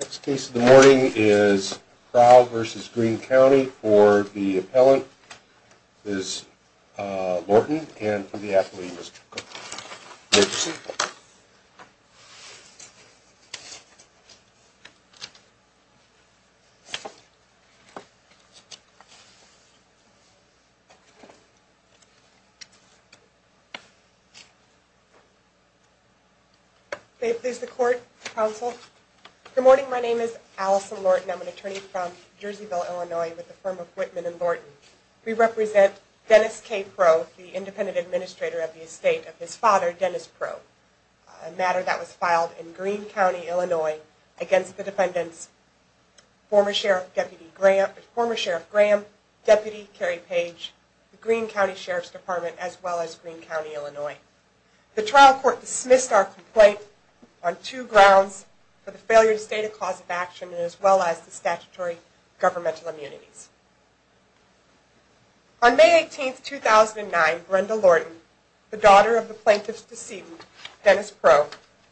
Next case of the morning is Prough v. Greene County for the appellant, Ms. Lorton, and for the athlete, Mr. Cook. You may be seated. Good morning. My name is Allison Lorton. I'm an attorney from Jerseyville, Illinois, with the firm of Whitman & Lorton. We represent Dennis K. Prough, the independent administrator of the estate of his father, Dennis Prough. A matter that was filed in Greene County, Illinois, against the defendants, former Sheriff Graham, Deputy Kerry Page, the Greene County Sheriff's Department, as well as Greene County, Illinois. The trial court dismissed our complaint on two grounds, for the failure to state a cause of action, as well as the statutory governmental immunities. On May 18, 2009, Brenda Lorton, the daughter of the plaintiff's decedent, Dennis Prough,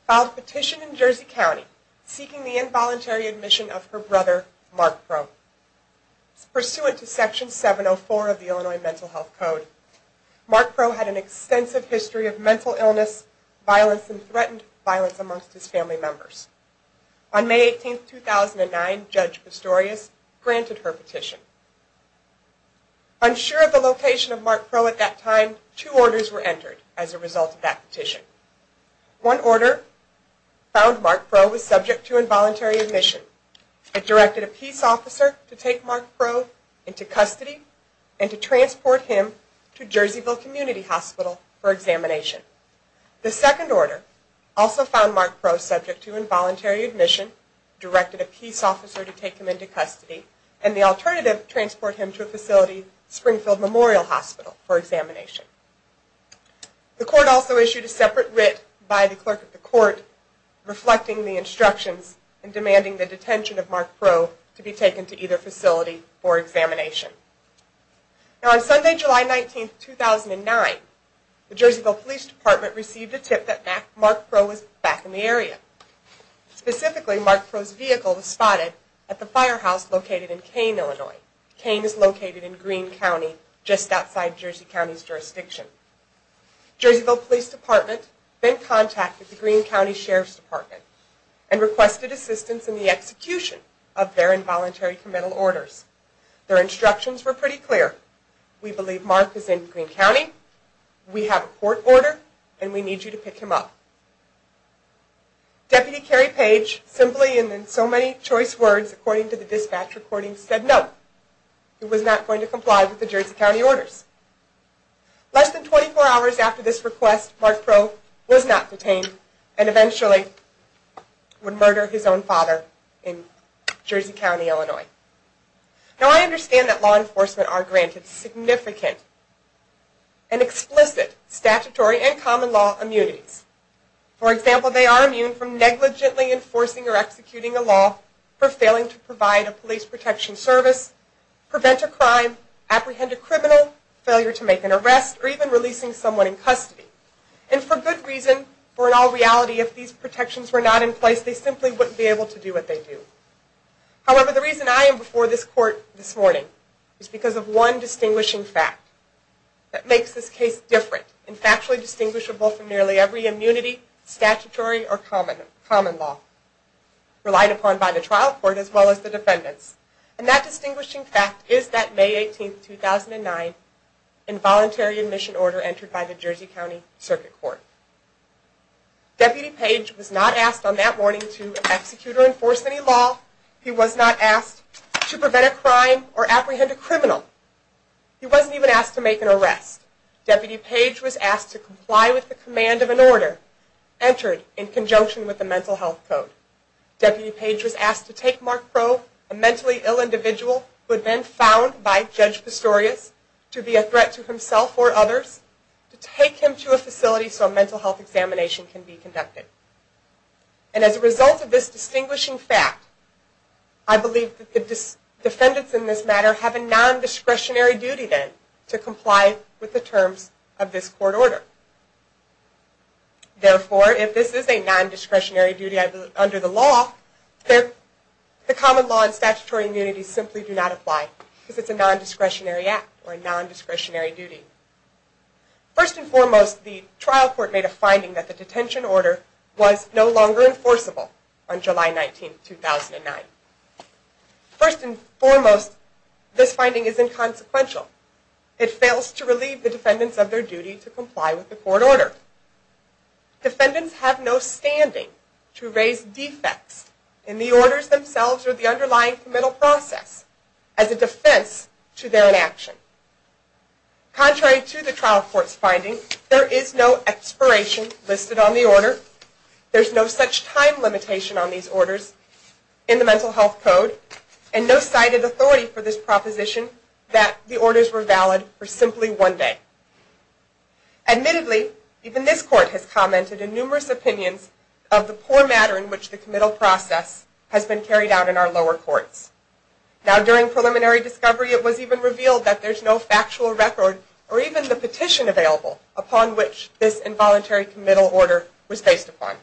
filed a petition in Jersey County, seeking the involuntary admission of her brother, Mark Prough. Pursuant to Section 704 of the Illinois Mental Health Code, Mark Prough had an extensive history of mental illness, violence, and threatened violence amongst his family members. On May 18, 2009, Judge Pistorius granted her petition. Unsure of the location of Mark Prough at that time, two orders were entered as a result of that petition. One order found Mark Prough was subject to involuntary admission. It directed a peace officer to take Mark Prough into custody, and to transport him to Jerseyville Community Hospital for examination. The second order also found Mark Prough subject to involuntary admission, directed a peace officer to take him into custody, and the alternative, transport him to a facility, Springfield Memorial Hospital, for examination. The court also issued a separate writ by the clerk of the court, reflecting the instructions, and demanding the detention of Mark Prough to be taken to either facility for examination. Now, on Sunday, July 19, 2009, the Jerseyville Police Department received a tip that Mark Prough was back in the area. Specifically, Mark Prough's vehicle was spotted at the firehouse located in Kane, Illinois. Kane is located in Greene County, just outside Jersey County's jurisdiction. Jerseyville Police Department then contacted the Greene County Sheriff's Department, and requested assistance in the execution of their involuntary committal orders. Their instructions were pretty clear. We believe Mark is in Greene County, we have a court order, and we need you to pick him up. Deputy Kerry Page, simply and in so many choice words, according to the dispatch recordings, said no. He was not going to comply with the Jersey County orders. Less than 24 hours after this request, Mark Prough was not detained, and eventually would murder his own father in Jersey County, Illinois. Now, I understand that law enforcement are granted significant and explicit statutory and common law immunities For example, they are immune from negligently enforcing or executing a law for failing to provide a police protection service, prevent a crime, apprehend a criminal, failure to make an arrest, or even releasing someone in custody. And for good reason, for in all reality, if these protections were not in place, they simply wouldn't be able to do what they do. However, the reason I am before this court this morning is because of one distinguishing fact that makes this case different and factually distinguishable from nearly every immunity, statutory, or common law relied upon by the trial court as well as the defendants. And that distinguishing fact is that May 18, 2009, involuntary admission order entered by the Jersey County Circuit Court. Deputy Page was not asked on that morning to execute or enforce any law. He was not asked to prevent a crime or apprehend a criminal. He wasn't even asked to make an arrest. Deputy Page was asked to comply with the command of an order entered in conjunction with the mental health code. Deputy Page was asked to take Mark Crowe, a mentally ill individual who had been found by Judge Pistorius, to be a threat to himself or others, to take him to a facility so a mental health examination can be conducted. And as a result of this distinguishing fact, I believe that the defendants in this matter have a non-discretionary duty then to comply with the terms of this court order. Therefore, if this is a non-discretionary duty under the law, the common law and statutory immunities simply do not apply because it's a non-discretionary act or a non-discretionary duty. First and foremost, the trial court made a finding that the detention order was no longer enforceable on July 19, 2009. First and foremost, this finding is inconsequential. It fails to relieve the defendants of their duty to comply with the court order. Defendants have no standing to raise defects in the orders themselves or the underlying committal process as a defense to their inaction. Contrary to the trial court's finding, there is no expiration listed on the order. There's no such time limitation on these orders in the Mental Health Code and no cited authority for this proposition that the orders were valid for simply one day. Admittedly, even this court has commented in numerous opinions of the poor matter in which the committal process has been carried out in our lower courts. Now, during preliminary discovery, it was even revealed that there's no factual record or even the petition available upon which this involuntary committal order was based upon.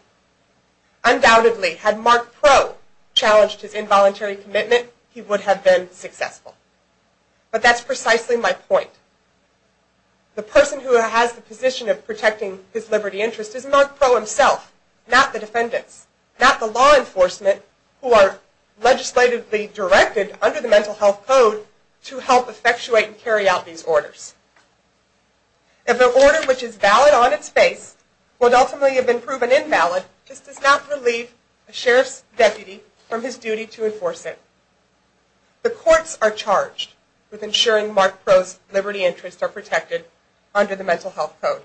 Undoubtedly, had Mark Pro challenged his involuntary commitment, he would have been successful. But that's precisely my point. The person who has the position of protecting his liberty interest is Mark Pro himself, not the defendants, not the law enforcement who are legislatively directed under the Mental Health Code to help effectuate and carry out these orders. If an order which is valid on its face would ultimately have been proven invalid, this does not relieve a sheriff's deputy from his duty to enforce it. The courts are charged with ensuring Mark Pro's liberty interests are protected under the Mental Health Code,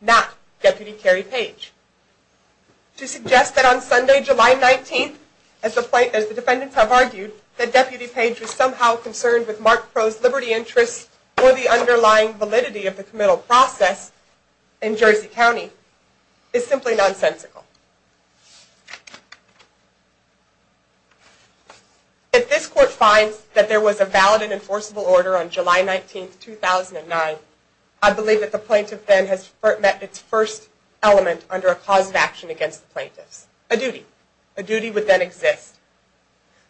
not Deputy Kerry Page. To suggest that on Sunday, July 19th, as the defendants have argued, that Deputy Page was somehow concerned with Mark Pro's liberty interests or the underlying validity of the committal process in Jersey County is simply nonsensical. If this court finds that there was a valid and enforceable order on July 19th, 2009, I believe that the plaintiff then has met its first element under a cause of action against the plaintiffs, a duty. A duty would then exist.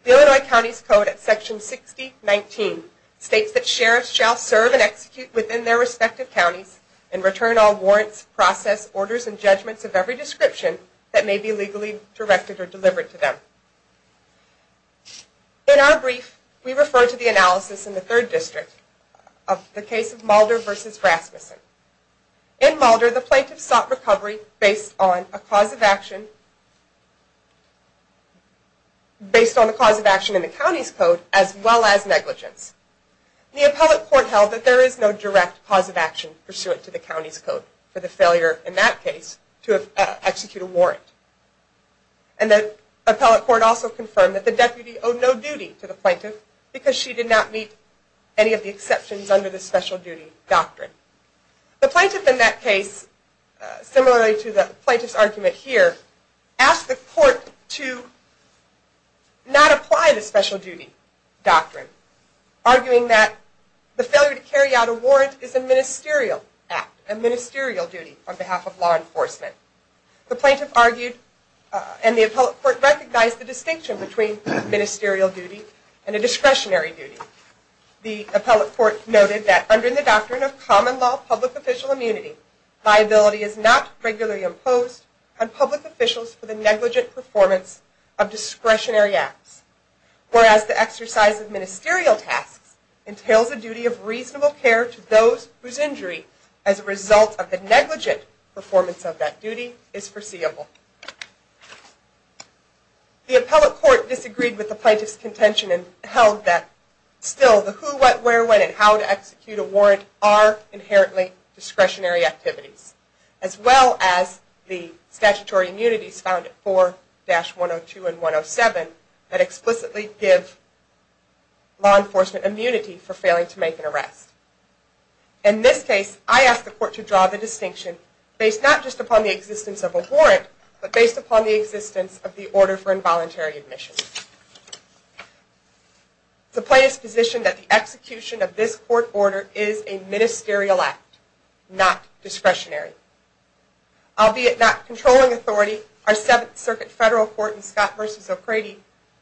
The Illinois County's Code at Section 6019 states that sheriffs shall serve and execute within their respective counties and return all warrants, process, orders, and judgments of every description that may be legally directed or delivered to them. In our brief, we refer to the analysis in the Third District of the case of Mulder v. Rasmussen. In Mulder, the plaintiffs sought recovery based on a cause of action based on the cause of action in the county's code as well as negligence. The appellate court held that there is no direct cause of action pursuant to the county's code for the failure, in that case, to execute a warrant. And the appellate court also confirmed that the deputy owed no duty to the plaintiff because she did not meet any of the exceptions under the special duty doctrine. The plaintiff in that case, similarly to the plaintiff's argument here, asked the court to not apply the special duty doctrine, arguing that the failure to carry out a warrant is a ministerial act, a ministerial duty on behalf of law enforcement. The plaintiff argued, and the appellate court recognized, the distinction between ministerial duty and a discretionary duty. The appellate court noted that under the doctrine of common law public official immunity, liability is not regularly imposed on public officials for the negligent performance of discretionary acts, whereas the exercise of ministerial tasks entails a duty of reasonable care to those whose injury as a result of the negligent performance of that duty is foreseeable. The appellate court disagreed with the plaintiff's contention and held that still the who, what, where, when, and how to execute a warrant are inherently discretionary activities, as well as the statutory immunities found at 4-102 and 107 that explicitly give law enforcement immunity for failing to make an arrest. In this case, I asked the court to draw the distinction based not just upon the existence of a warrant, but based upon the existence of the order for involuntary admission. The plaintiff's position that the execution of this court order is a ministerial act, not discretionary. Albeit not controlling authority, our Seventh Circuit Federal Court in Scott v.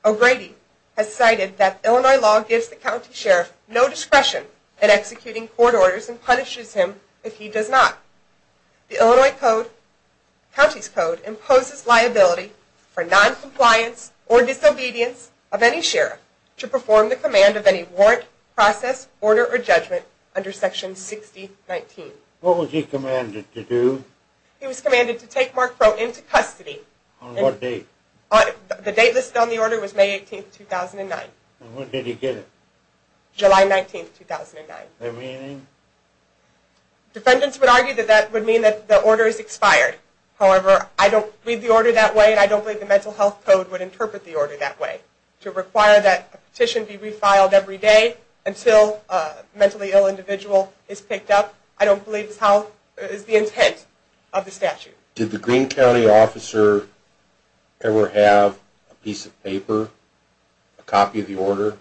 O'Grady has cited that Illinois law gives the county sheriff no discretion in executing court orders and punishes him if he does not. The Illinois County's Code imposes liability for noncompliance or disobedience of any sheriff to perform the command of any warrant, process, order, or judgment under Section 6019. What was he commanded to do? He was commanded to take Mark Crowe into custody. On what date? The date listed on the order was May 18, 2009. And when did he get it? July 19, 2009. The meaning? Defendants would argue that that would mean that the order is expired. However, I don't read the order that way and I don't believe the Mental Health Code would interpret the order that way. To require that a petition be refiled every day until a mentally ill individual is picked up, I don't believe is the intent of the statute. Did the Greene County officer ever have a piece of paper, a copy of the order,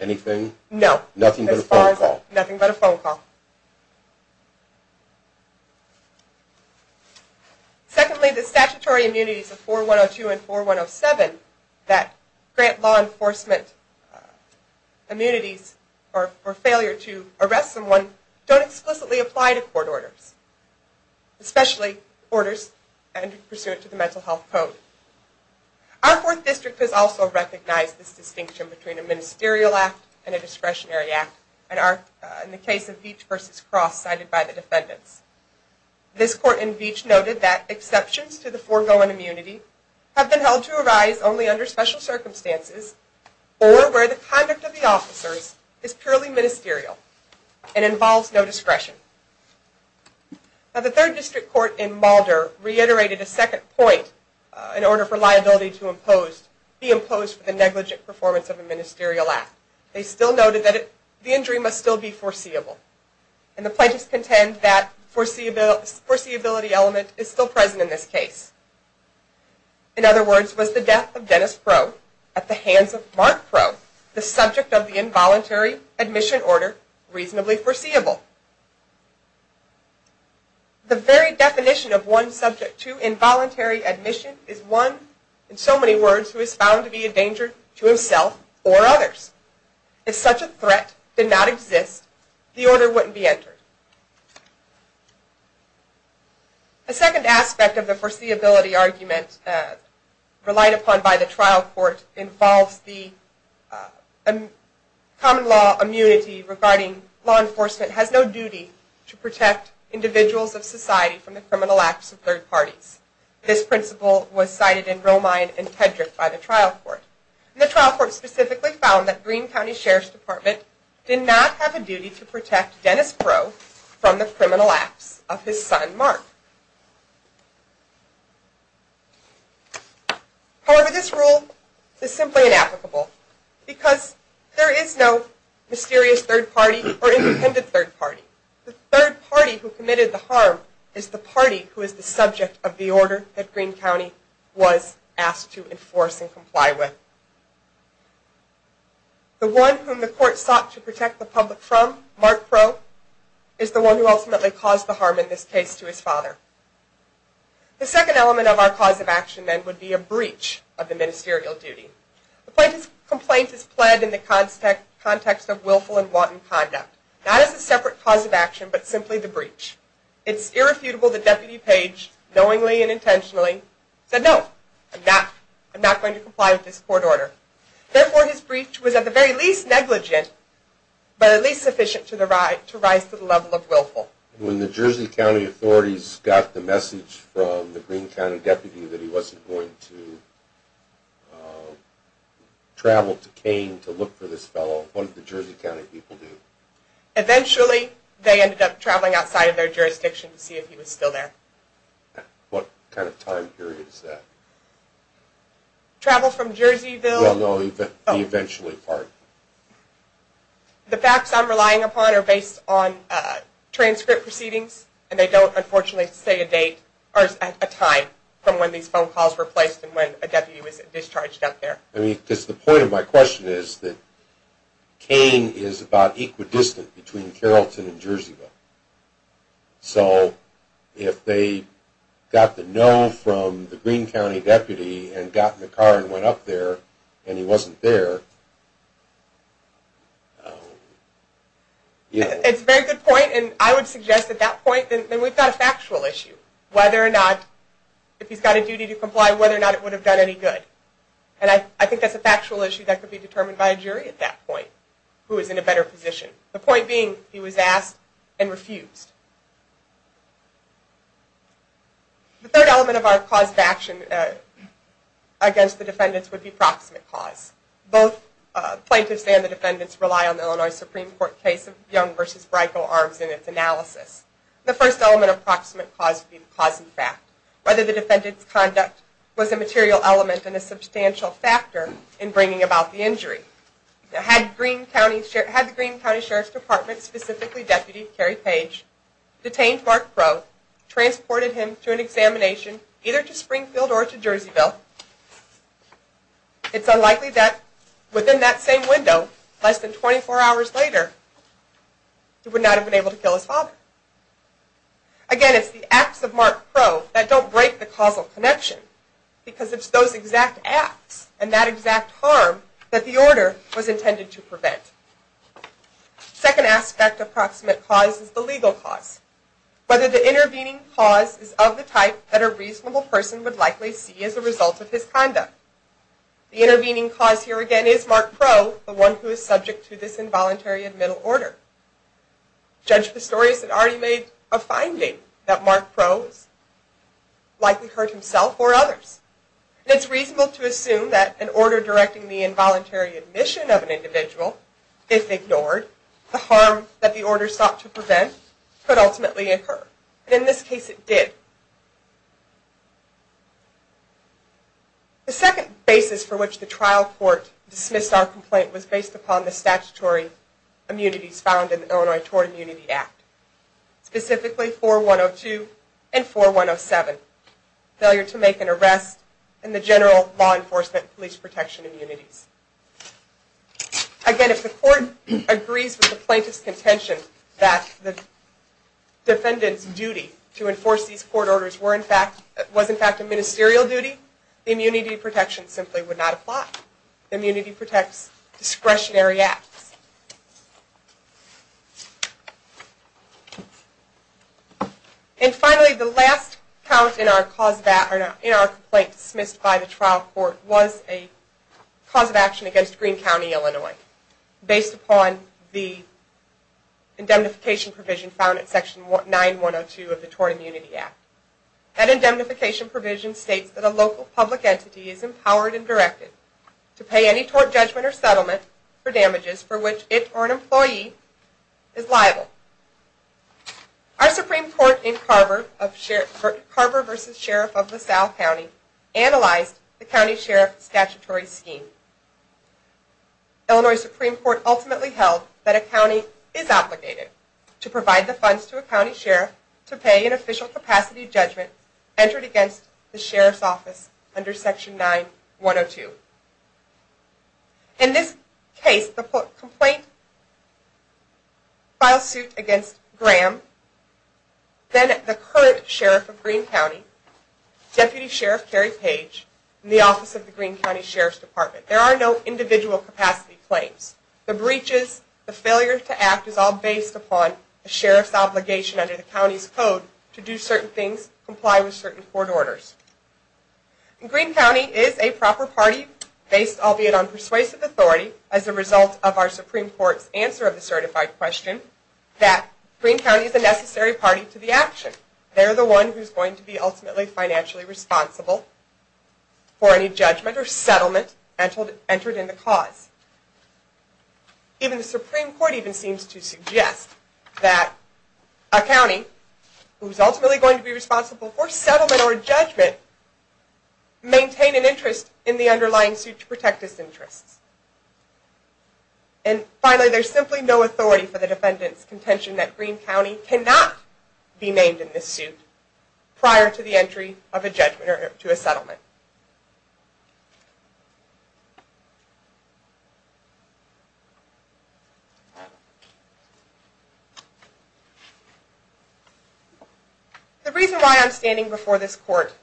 anything? No. Nothing but a phone call? Nothing but a phone call. Secondly, the statutory immunities of 4102 and 4107 that grant law enforcement immunities for failure to arrest someone don't explicitly apply to court orders, especially orders pursuant to the Mental Health Code. Our fourth district has also recognized this distinction between a ministerial act and a discretionary act in the case of Beach v. Cross cited by the defendants. This court in Beach noted that exceptions to the foregoing immunity have been held to arise only under special circumstances or where the conduct of the officers is purely ministerial and involves no discretion. The third district court in Mulder reiterated a second point in order for liability to be imposed for the negligent performance of a ministerial act. They still noted that the injury must still be foreseeable and the plaintiffs contend that the foreseeability element is still present in this case. In other words, was the death of Dennis Crow at the hands of Mark Crow, the subject of the involuntary admission order, reasonably foreseeable? The very definition of one subject to involuntary admission is one, in so many words, who is found to be a danger to himself or others. If such a threat did not exist, the order wouldn't be entered. A second aspect of the foreseeability argument relied upon by the trial court involves the common law immunity regarding law enforcement has no duty to protect individuals of society from the criminal acts of third parties. This principle was cited in Romine and Tedrick by the trial court. The trial court specifically found that Greene County Sheriff's Department did not have a duty to protect Dennis Crow from the criminal acts of his son, Mark. However, this rule is simply inapplicable because there is no mysterious third party or independent third party. The third party who committed the harm is the party who is the subject of the order that Greene County was asked to enforce and comply with. The one whom the court sought to protect the public from, Mark Crow, is the one who ultimately caused the harm in this case to his father. The second element of our cause of action then would be a breach of the ministerial duty. The plaintiff's complaint is pled in the context of willful and wanton conduct. Not as a separate cause of action, but simply the breach. It's irrefutable that Deputy Page, knowingly and intentionally, said no, I'm not going to comply with this court order. Therefore, his breach was at the very least negligent, but at least sufficient to rise to the level of willful. Well, when the Jersey County authorities got the message from the Greene County deputy that he wasn't going to travel to Kane to look for this fellow, what did the Jersey County people do? Eventually, they ended up traveling outside of their jurisdiction to see if he was still there. What kind of time period is that? Travel from Jerseyville? No, no, the eventually part. The facts I'm relying upon are based on transcript proceedings, and they don't, unfortunately, say a date or a time from when these phone calls were placed and when a deputy was discharged out there. I mean, because the point of my question is that Kane is about equidistant between Carrollton and Jerseyville. So if they got the no from the Greene County deputy and got in the car and went up there and he wasn't there, you know. It's a very good point, and I would suggest at that point that we've got a factual issue, whether or not if he's got a duty to comply, whether or not it would have done any good. And I think that's a factual issue that could be determined by a jury at that point who is in a better position, the point being he was asked and refused. The third element of our cause of action against the defendants would be proximate cause. Both plaintiffs and the defendants rely on the Illinois Supreme Court case of Young v. Brico Arms in its analysis. The first element of proximate cause would be the cause and fact. Whether the defendant's conduct was a material element and a substantial factor in bringing about the injury. Had the Greene County Sheriff's Department, specifically Deputy Kerry Page, detained Mark Crowe, transported him to an examination either to Springfield or to Jerseyville, it's unlikely that within that same window, less than 24 hours later, he would not have been able to kill his father. Again, it's the acts of Mark Crowe that don't break the causal connection because it's those exact acts and that exact harm that the order was intended to prevent. Second aspect of proximate cause is the legal cause. Whether the intervening cause is of the type that a reasonable person would likely see as a result of his conduct. The intervening cause here again is Mark Crowe, the one who is subject to this involuntary admittal order. Judge Pistorius had already made a finding that Mark Crowe likely hurt himself or others. It's reasonable to assume that an order directing the involuntary admission of an individual, if ignored, the harm that the order sought to prevent, could ultimately occur. In this case, it did. The second basis for which the trial court dismissed our complaint was based upon the statutory immunities found in the Illinois Tort Immunity Act, specifically 4102 and 4107. Failure to make an arrest and the general law enforcement police protection immunities. Again, if the court agrees with the plaintiff's contention that the defendant's duty to enforce these court orders was in fact a ministerial duty, the immunity protection simply would not apply. The immunity protects discretionary acts. And finally, the last count in our complaint dismissed by the trial court was a cause of action against Green County, Illinois, based upon the indemnification provision found in section 9102 of the Tort Immunity Act. That indemnification provision states that a local public entity is empowered and directed to pay any tort judgment or settlement for damages for which it or an employee is liable. Our Supreme Court in Carver v. Sheriff of LaSalle County analyzed the county sheriff statutory scheme. Illinois Supreme Court ultimately held that a county is obligated to provide the funds to a county sheriff to pay an official capacity judgment entered against the sheriff's office under section 9102. In this case, the complaint filed suit against Graham, then the current sheriff of Green County, Deputy Sheriff Kerry Page, and the office of the Green County Sheriff's Department. There are no individual capacity claims. The breaches, the failure to act is all based upon a sheriff's obligation under the county's code to do certain things, comply with certain court orders. Green County is a proper party based, albeit on persuasive authority, as a result of our Supreme Court's answer of the certified question that Green County is a necessary party to the action. They're the one who's going to be ultimately financially responsible for any judgment or settlement entered in the cause. Even the Supreme Court even seems to suggest that a county who's ultimately going to be responsible for settlement or judgment maintain an interest in the underlying suit to protect its interests. And finally, there's simply no authority for the defendant's contention that Green County cannot be named in this suit prior to the entry of a judgment or to a settlement. The reason why I'm standing before this court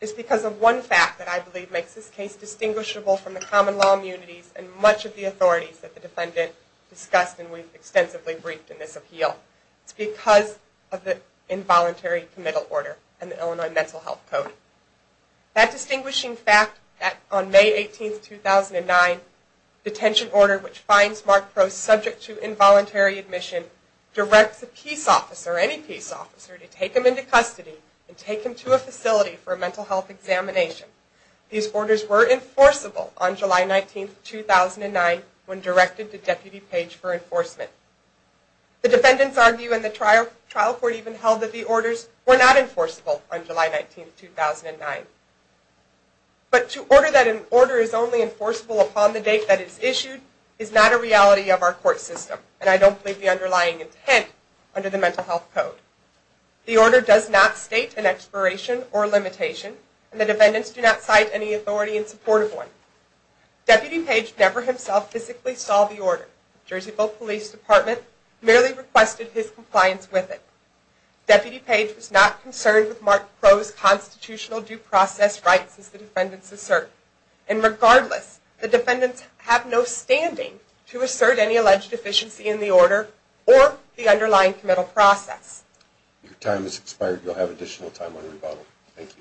is because of one fact that I believe makes this case distinguishable from the common law immunities and much of the authorities that the defendant discussed and we've extensively briefed in this appeal. It's because of the involuntary committal order and the Illinois Mental Health Code. That distinguishing fact that on May 18, 2009, detention order which finds Mark Crowe subject to involuntary admission directs a peace officer, any peace officer, to take him into custody and take him to a facility for a mental health examination. These orders were enforceable on July 19, 2009 when directed to Deputy Page for enforcement. The defendants argue and the trial court even held that the orders were not enforceable on July 19, 2009. But to order that an order is only enforceable upon the date that it's issued is not a reality of our court system and I don't believe the underlying intent under the Mental Health Code. The order does not state an expiration or limitation and the defendants do not cite any authority in support of one. Deputy Page never himself physically saw the order. Jerseyville Police Department merely requested his compliance with it. Deputy Page was not concerned with Mark Crowe's constitutional due process rights as the defendants assert. And regardless, the defendants have no standing to assert any alleged deficiency in the order or the underlying committal process. Your time has expired. You'll have additional time on rebuttal. Thank you.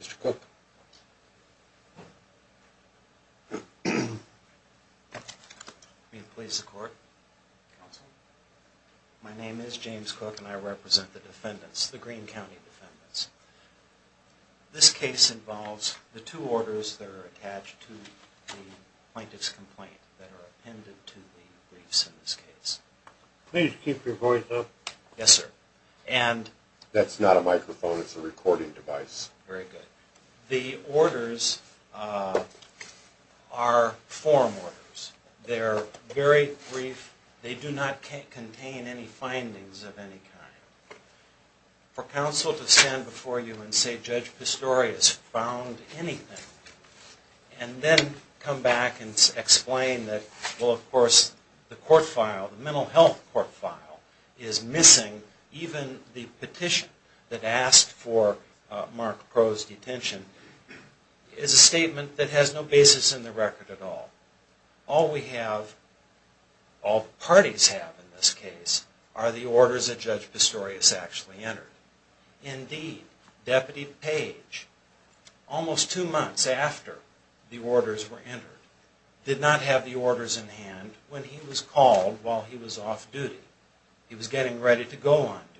Mr. Cook. May it please the court. Counsel. My name is James Cook and I represent the defendants, the Greene County defendants. This case involves the two orders that are attached to the plaintiff's complaint that are appended to the briefs in this case. Please keep your voice up. Yes, sir. That's not a microphone, it's a recording device. Very good. The orders are form orders. They're very brief. They do not contain any findings of any kind. For counsel to stand before you and say Judge Pistorius found anything and then come back and explain that well of course the court file, the mental health court file, is missing even the petition that asked for Mark Crowe's detention is a statement that has no basis in the record at all. All we have, all parties have in this case, are the orders that Judge Pistorius actually entered. Indeed, Deputy Page, almost two months after the orders were entered, did not have the orders in hand when he was called while he was off duty. He was getting ready to go on duty.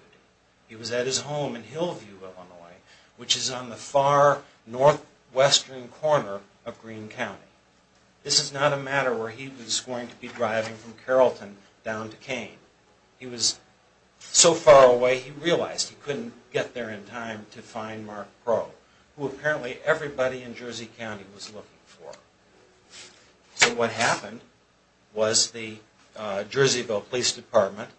He was at his home in Hillview, Illinois, which is on the far northwestern corner of Greene County. This is not a matter where he was going to be driving from Carrollton down to Kane. He was so far away he realized he couldn't get there in time to find Mark Crowe, who apparently everybody in Jersey County was looking for. So what happened was the Jerseyville Police Department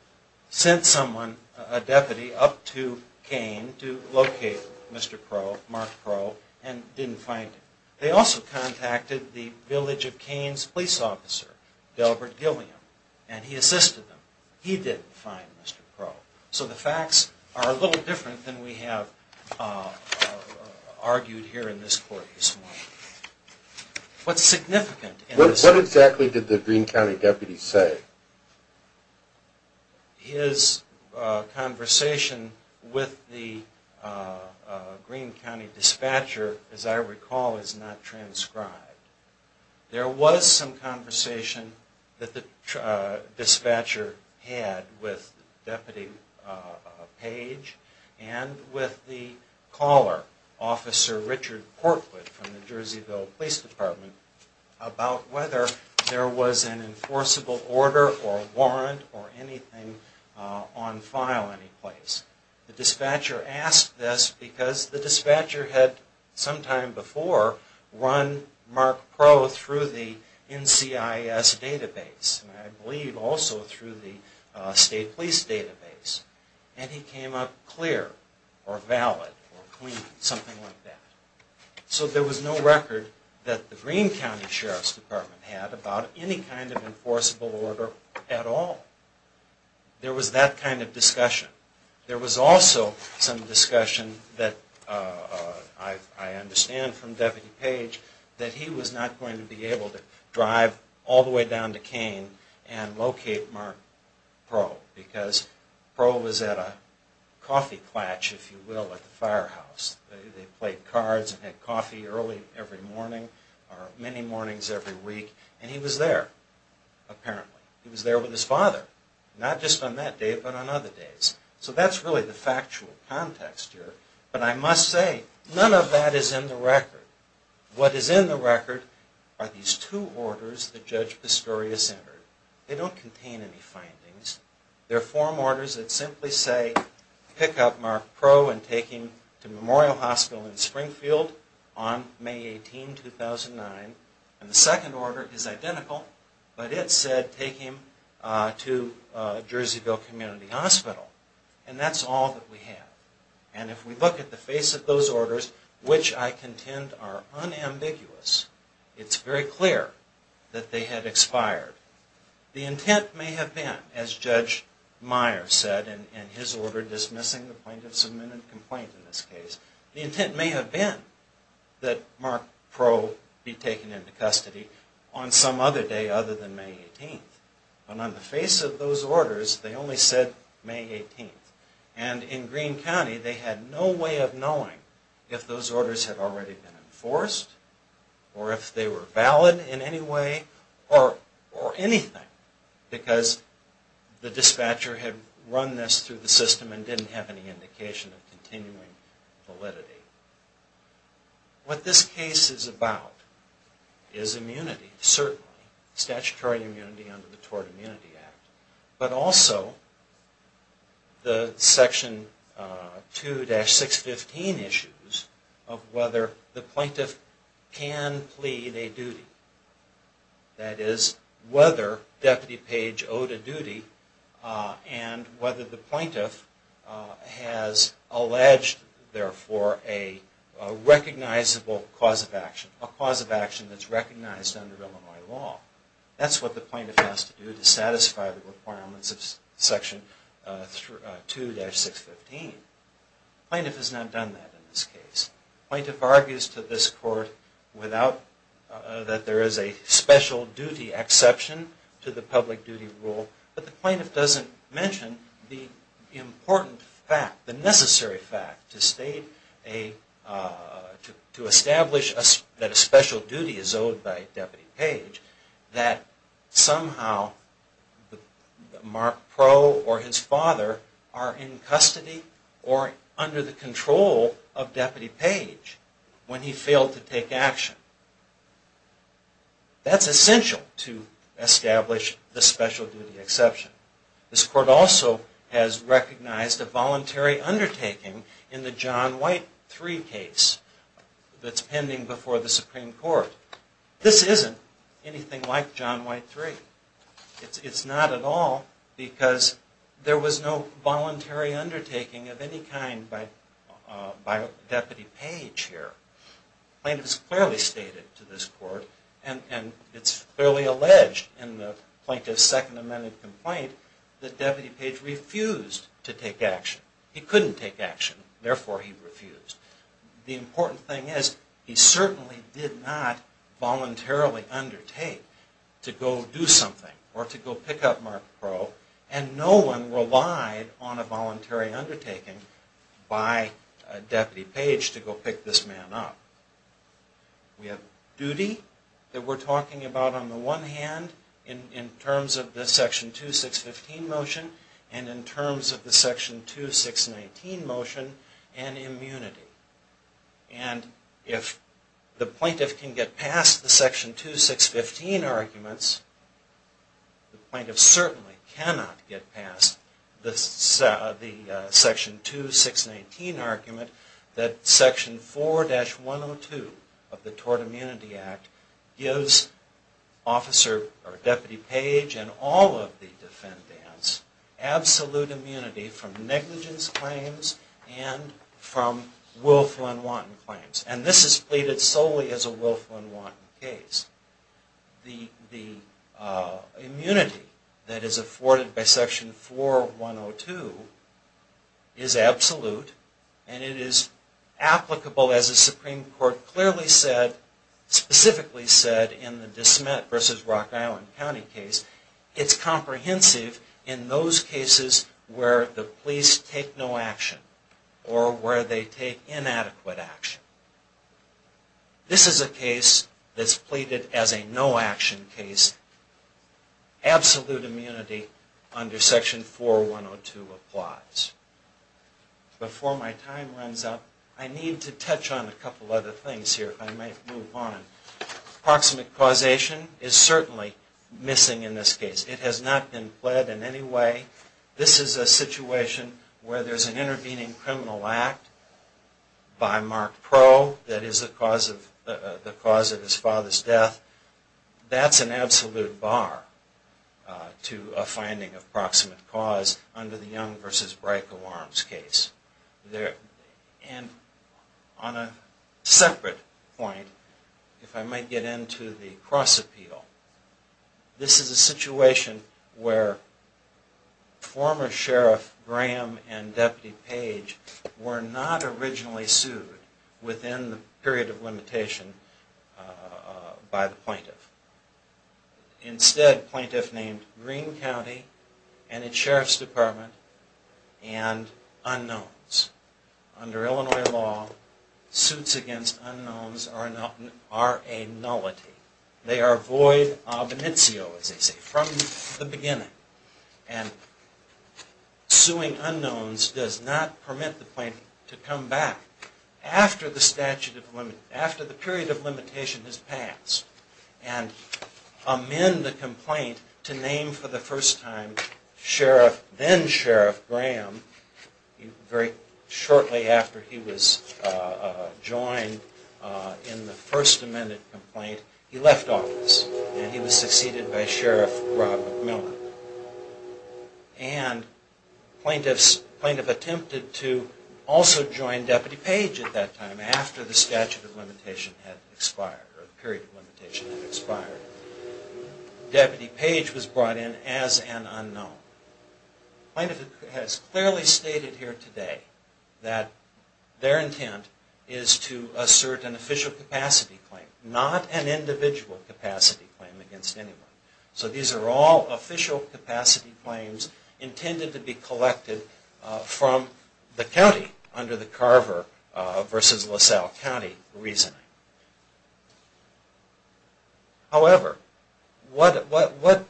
sent someone, a deputy, up to Kane to locate Mr. Crowe, Mark Crowe, and didn't find him. They also contacted the village of Kane's police officer, Delbert Gilliam, and he assisted them. He didn't find Mr. Crowe. So the facts are a little different than we have argued here in this court this morning. What's significant in this... What exactly did the Greene County deputy say? His conversation with the Greene County dispatcher, as I recall, is not transcribed. There was some conversation that the dispatcher had with Deputy Page and with the caller, Officer Richard Portwood from the Jerseyville Police Department, about whether there was an enforceable order or warrant or anything on file anyplace. The dispatcher asked this because the dispatcher had sometime before run Mark Crowe through the NCIS database, and I believe also through the state police database, and he came up clear or valid or clean, something like that. So there was no record that the Greene County Sheriff's Department had about any kind of enforceable order at all. There was that kind of discussion. There was also some discussion that I understand from Deputy Page that he was not going to be able to drive all the way down to Kane and locate Mark Crowe because Crowe was at a coffee klatch, if you will, at the firehouse. They played cards and had coffee early every morning or many mornings every week, and he was there, apparently. He was there with his father, not just on that day but on other days. So that's really the factual context here. But I must say, none of that is in the record. What is in the record are these two orders that Judge Pistorius entered. They don't contain any findings. They're form orders that simply say pick up Mark Crowe and take him to Memorial Hospital in Springfield on May 18, 2009. And the second order is identical, but it said take him to Jerseyville Community Hospital. And that's all that we have. And if we look at the face of those orders, which I contend are unambiguous, it's very clear that they had expired. The intent may have been, as Judge Meyer said in his order dismissing the plaintiff's submitted complaint in this case, the intent may have been that Mark Crowe be taken into custody on some other day other than May 18. But on the face of those orders, they only said May 18. And in Greene County, they had no way of knowing if those orders had already been enforced or if they were valid in any way or anything because the dispatcher had run this through the system and didn't have any indication of continuing validity. What this case is about is immunity, certainly, statutory immunity under the Tort Immunity Act, but also the Section 2-615 issues of whether the plaintiff can plead a duty. That is, whether Deputy Page owed a duty and whether the plaintiff has alleged, therefore, a recognizable cause of action, a cause of action that's recognized under Illinois law. That's what the plaintiff has to do to satisfy the requirements of Section 2-615. The plaintiff has not done that in this case. The plaintiff argues to this court that there is a special duty exception to the public duty rule, but the plaintiff doesn't mention the important fact, the necessary fact, to establish that a special duty is owed by Deputy Page that somehow Mark Proe or his father are in custody or under the control of Deputy Page when he failed to take action. That's essential to establish the special duty exception. This court also has recognized a voluntary undertaking in the John White III case that's pending before the Supreme Court. This isn't anything like John White III. It's not at all because there was no voluntary undertaking of any kind by Deputy Page here. The plaintiff has clearly stated to this court, and it's fairly alleged in the plaintiff's Second Amendment complaint, that Deputy Page refused to take action. He couldn't take action, therefore he refused. The important thing is he certainly did not voluntarily undertake to go do something or to go pick up Mark Proe, and no one relied on a voluntary undertaking by Deputy Page to go pick this man up. We have duty that we're talking about on the one hand in terms of the Section 2-615 motion and in terms of the Section 2-619 motion and immunity. And if the plaintiff can get past the Section 2-615 arguments, the plaintiff certainly cannot get past the Section 2-619 argument that Section 4-102 of the Tort Immunity Act gives Deputy Page and all of the defendants absolute immunity from negligence claims and from willful and wanton claims. And this is pleaded solely as a willful and wanton case. The immunity that is afforded by Section 4-102 is absolute, and it is applicable as the Supreme Court clearly said, specifically said in the DeSmet v. Rock Island County case, it's comprehensive in those cases where the police take no action or where they take inadequate action. This is a case that's pleaded as a no-action case. Absolute immunity under Section 4-102 applies. Before my time runs out, I need to touch on a couple other things here. Proximate causation is certainly missing in this case. It has not been pled in any way. This is a situation where there's an intervening criminal act by Mark Pro that is the cause of his father's death. That's an absolute bar to a finding of proximate cause under the Young v. Brico Arms case. And on a separate point, if I might get into the cross-appeal, this is a situation where former Sheriff Graham and Deputy Page were not originally sued within the period of limitation by the plaintiff. Instead, the plaintiff named Greene County and its Sheriff's Department and unknowns. Under Illinois law, suits against unknowns are a nullity. They are void ab initio, as they say, from the beginning. And suing unknowns does not permit the plaintiff to come back after the period of limitation has passed and amend the complaint to name for the first time then-Sheriff Graham. Very shortly after he was joined in the first amended complaint, he left office and he was succeeded by Sheriff Rob McMillan. And the plaintiff attempted to also join Deputy Page at that time after the statute of limitation had expired, or the period of limitation had expired. Deputy Page was brought in as an unknown. The plaintiff has clearly stated here today that their intent is to assert an official capacity claim, not an individual capacity claim against anyone. So these are all official capacity claims intended to be collected from the county under the Carver v. LaSalle County reasoning. However, what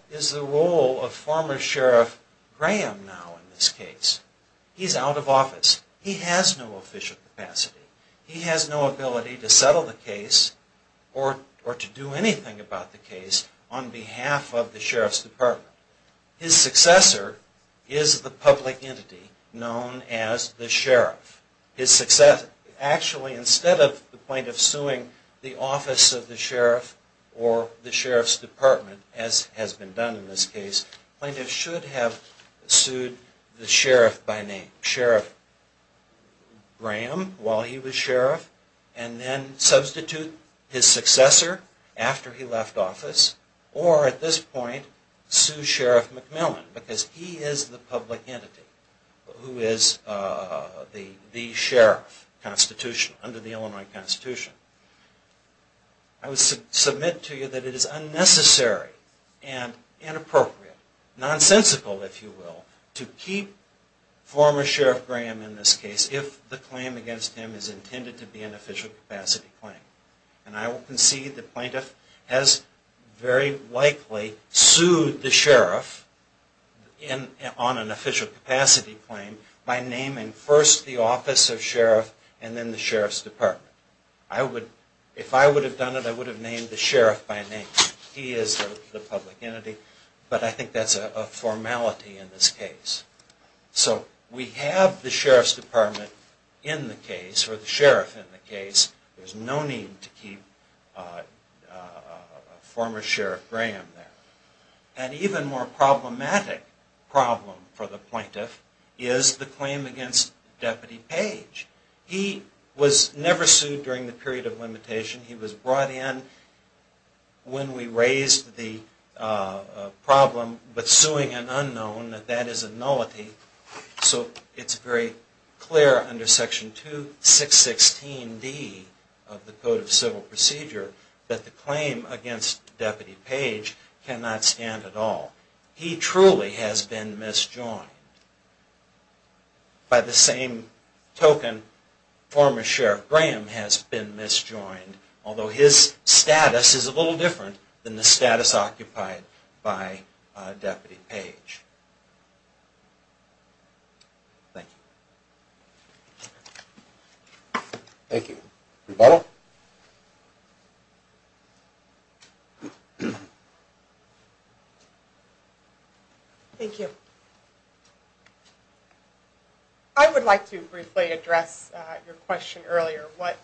is the role of former Sheriff Graham now in this case? He's out of office. He has no official capacity. He has no ability to settle the case or to do anything about the case on behalf of the Sheriff's Department. His successor is the public entity known as the Sheriff. Actually, instead of the plaintiff suing the office of the Sheriff or the Sheriff's Department, as has been done in this case, the plaintiff should have sued the Sheriff by name, Sheriff Graham, while he was Sheriff, and then substitute his successor after he left office, or at this point, sue Sheriff McMillan because he is the public entity who is the Sheriff under the Illinois Constitution. I would submit to you that it is unnecessary and inappropriate, nonsensical, if you will, to keep former Sheriff Graham in this case if the claim against him is intended to be an official capacity claim. And I will concede the plaintiff has very likely sued the Sheriff on an official capacity claim by naming first the office of Sheriff and then the Sheriff's Department. If I would have done it, I would have named the Sheriff by name. He is the public entity, but I think that's a formality in this case. So we have the Sheriff's Department in the case, or the Sheriff in the case. There's no need to keep former Sheriff Graham there. An even more problematic problem for the plaintiff is the claim against Deputy Page. He was never sued during the period of limitation. He was brought in when we raised the problem with suing an unknown, that that is a nullity. So it's very clear under Section 216D of the Code of Civil Procedure that the claim against Deputy Page cannot stand at all. He truly has been misjoined. By the same token, former Sheriff Graham has been misjoined, although his status is a little different than the status occupied by Deputy Page. Thank you. Thank you. Rebuttal? Thank you. I would like to briefly address your question earlier. What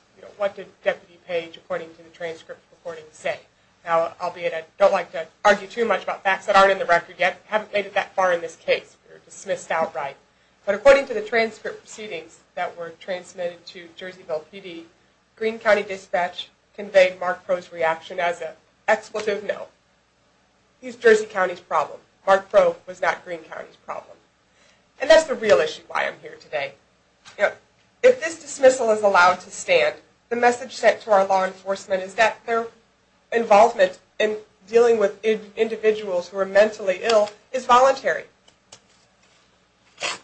did Deputy Page, according to the transcript of the recording, say? Now, I don't like to argue too much about facts that aren't in the record yet. We haven't made it that far in this case. We were dismissed outright. But according to the transcript proceedings that were transmitted to Jerseyville PD, Green County Dispatch conveyed Mark Crowe's reaction as an expletive no. He's Jersey County's problem. Mark Crowe was not Green County's problem. And that's the real issue why I'm here today. If this dismissal is allowed to stand, the message sent to our law enforcement is that their involvement in dealing with individuals who are mentally ill is voluntary.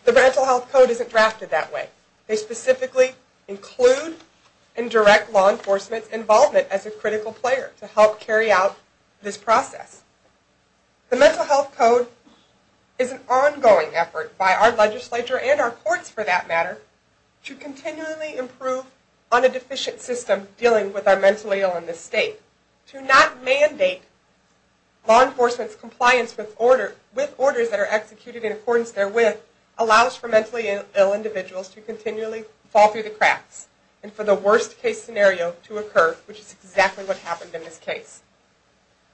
The Mental Health Code isn't drafted that way. They specifically include and direct law enforcement's involvement as a critical player to help carry out this process. The Mental Health Code is an ongoing effort by our legislature, and our courts for that matter, to continually improve on a deficient system dealing with our mentally ill in this state. To not mandate law enforcement's compliance with orders that are executed in accordance with allows for mentally ill individuals to continually fall through the cracks and for the worst case scenario to occur, which is exactly what happened in this case.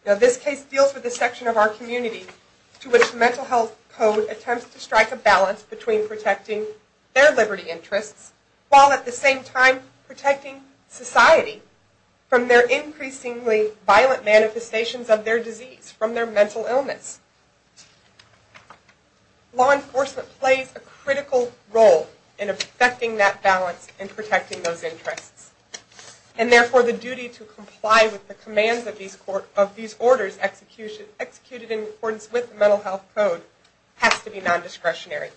Now this case deals with a section of our community to which the Mental Health Code attempts to strike a balance between protecting their liberty interests while at the same time protecting society from their increasingly violent manifestations of their disease, from their mental illness. Law enforcement plays a critical role in effecting that balance and protecting those interests. And therefore, the duty to comply with the commands of these orders executed in accordance with the Mental Health Code has to be non-discretionary.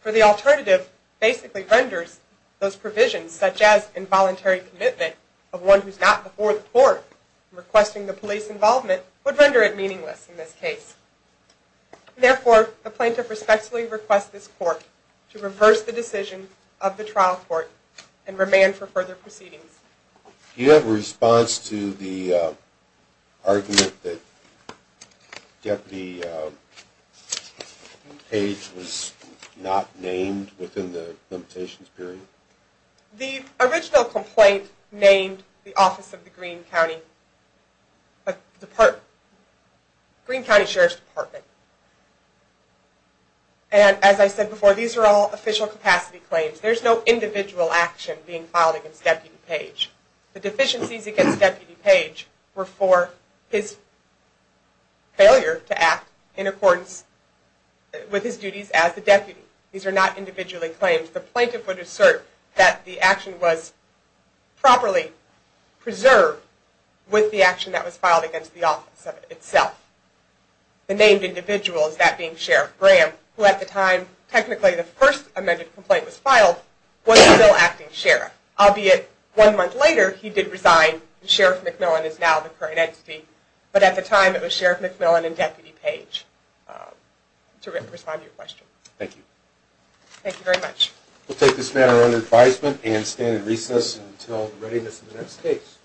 For the alternative basically renders those provisions, such as involuntary commitment of one who's not before the court requesting the police involvement, would render it meaningless in this case. Therefore, the plaintiff respectfully requests this court to reverse the decision of the trial court and remand for further proceedings. Do you have a response to the argument that Deputy Page was not named within the limitations period? The original complaint named the Office of the Green County Sheriff's Department. And as I said before, these are all official capacity claims. There's no individual action being filed against Deputy Page. The deficiencies against Deputy Page were for his failure to act in accordance with his duties as a deputy. These are not individually claimed. The plaintiff would assert that the action was properly preserved with the action that was filed against the office of itself. The named individual is that being Sheriff Graham, who at the time, technically the first amended complaint was filed, was still acting sheriff. Albeit, one month later he did resign and Sheriff McMillan is now the current entity. But at the time it was Sheriff McMillan and Deputy Page. To respond to your question. Thank you. Thank you very much. We'll take this matter under advisement and stand in recess until the readiness of the next case.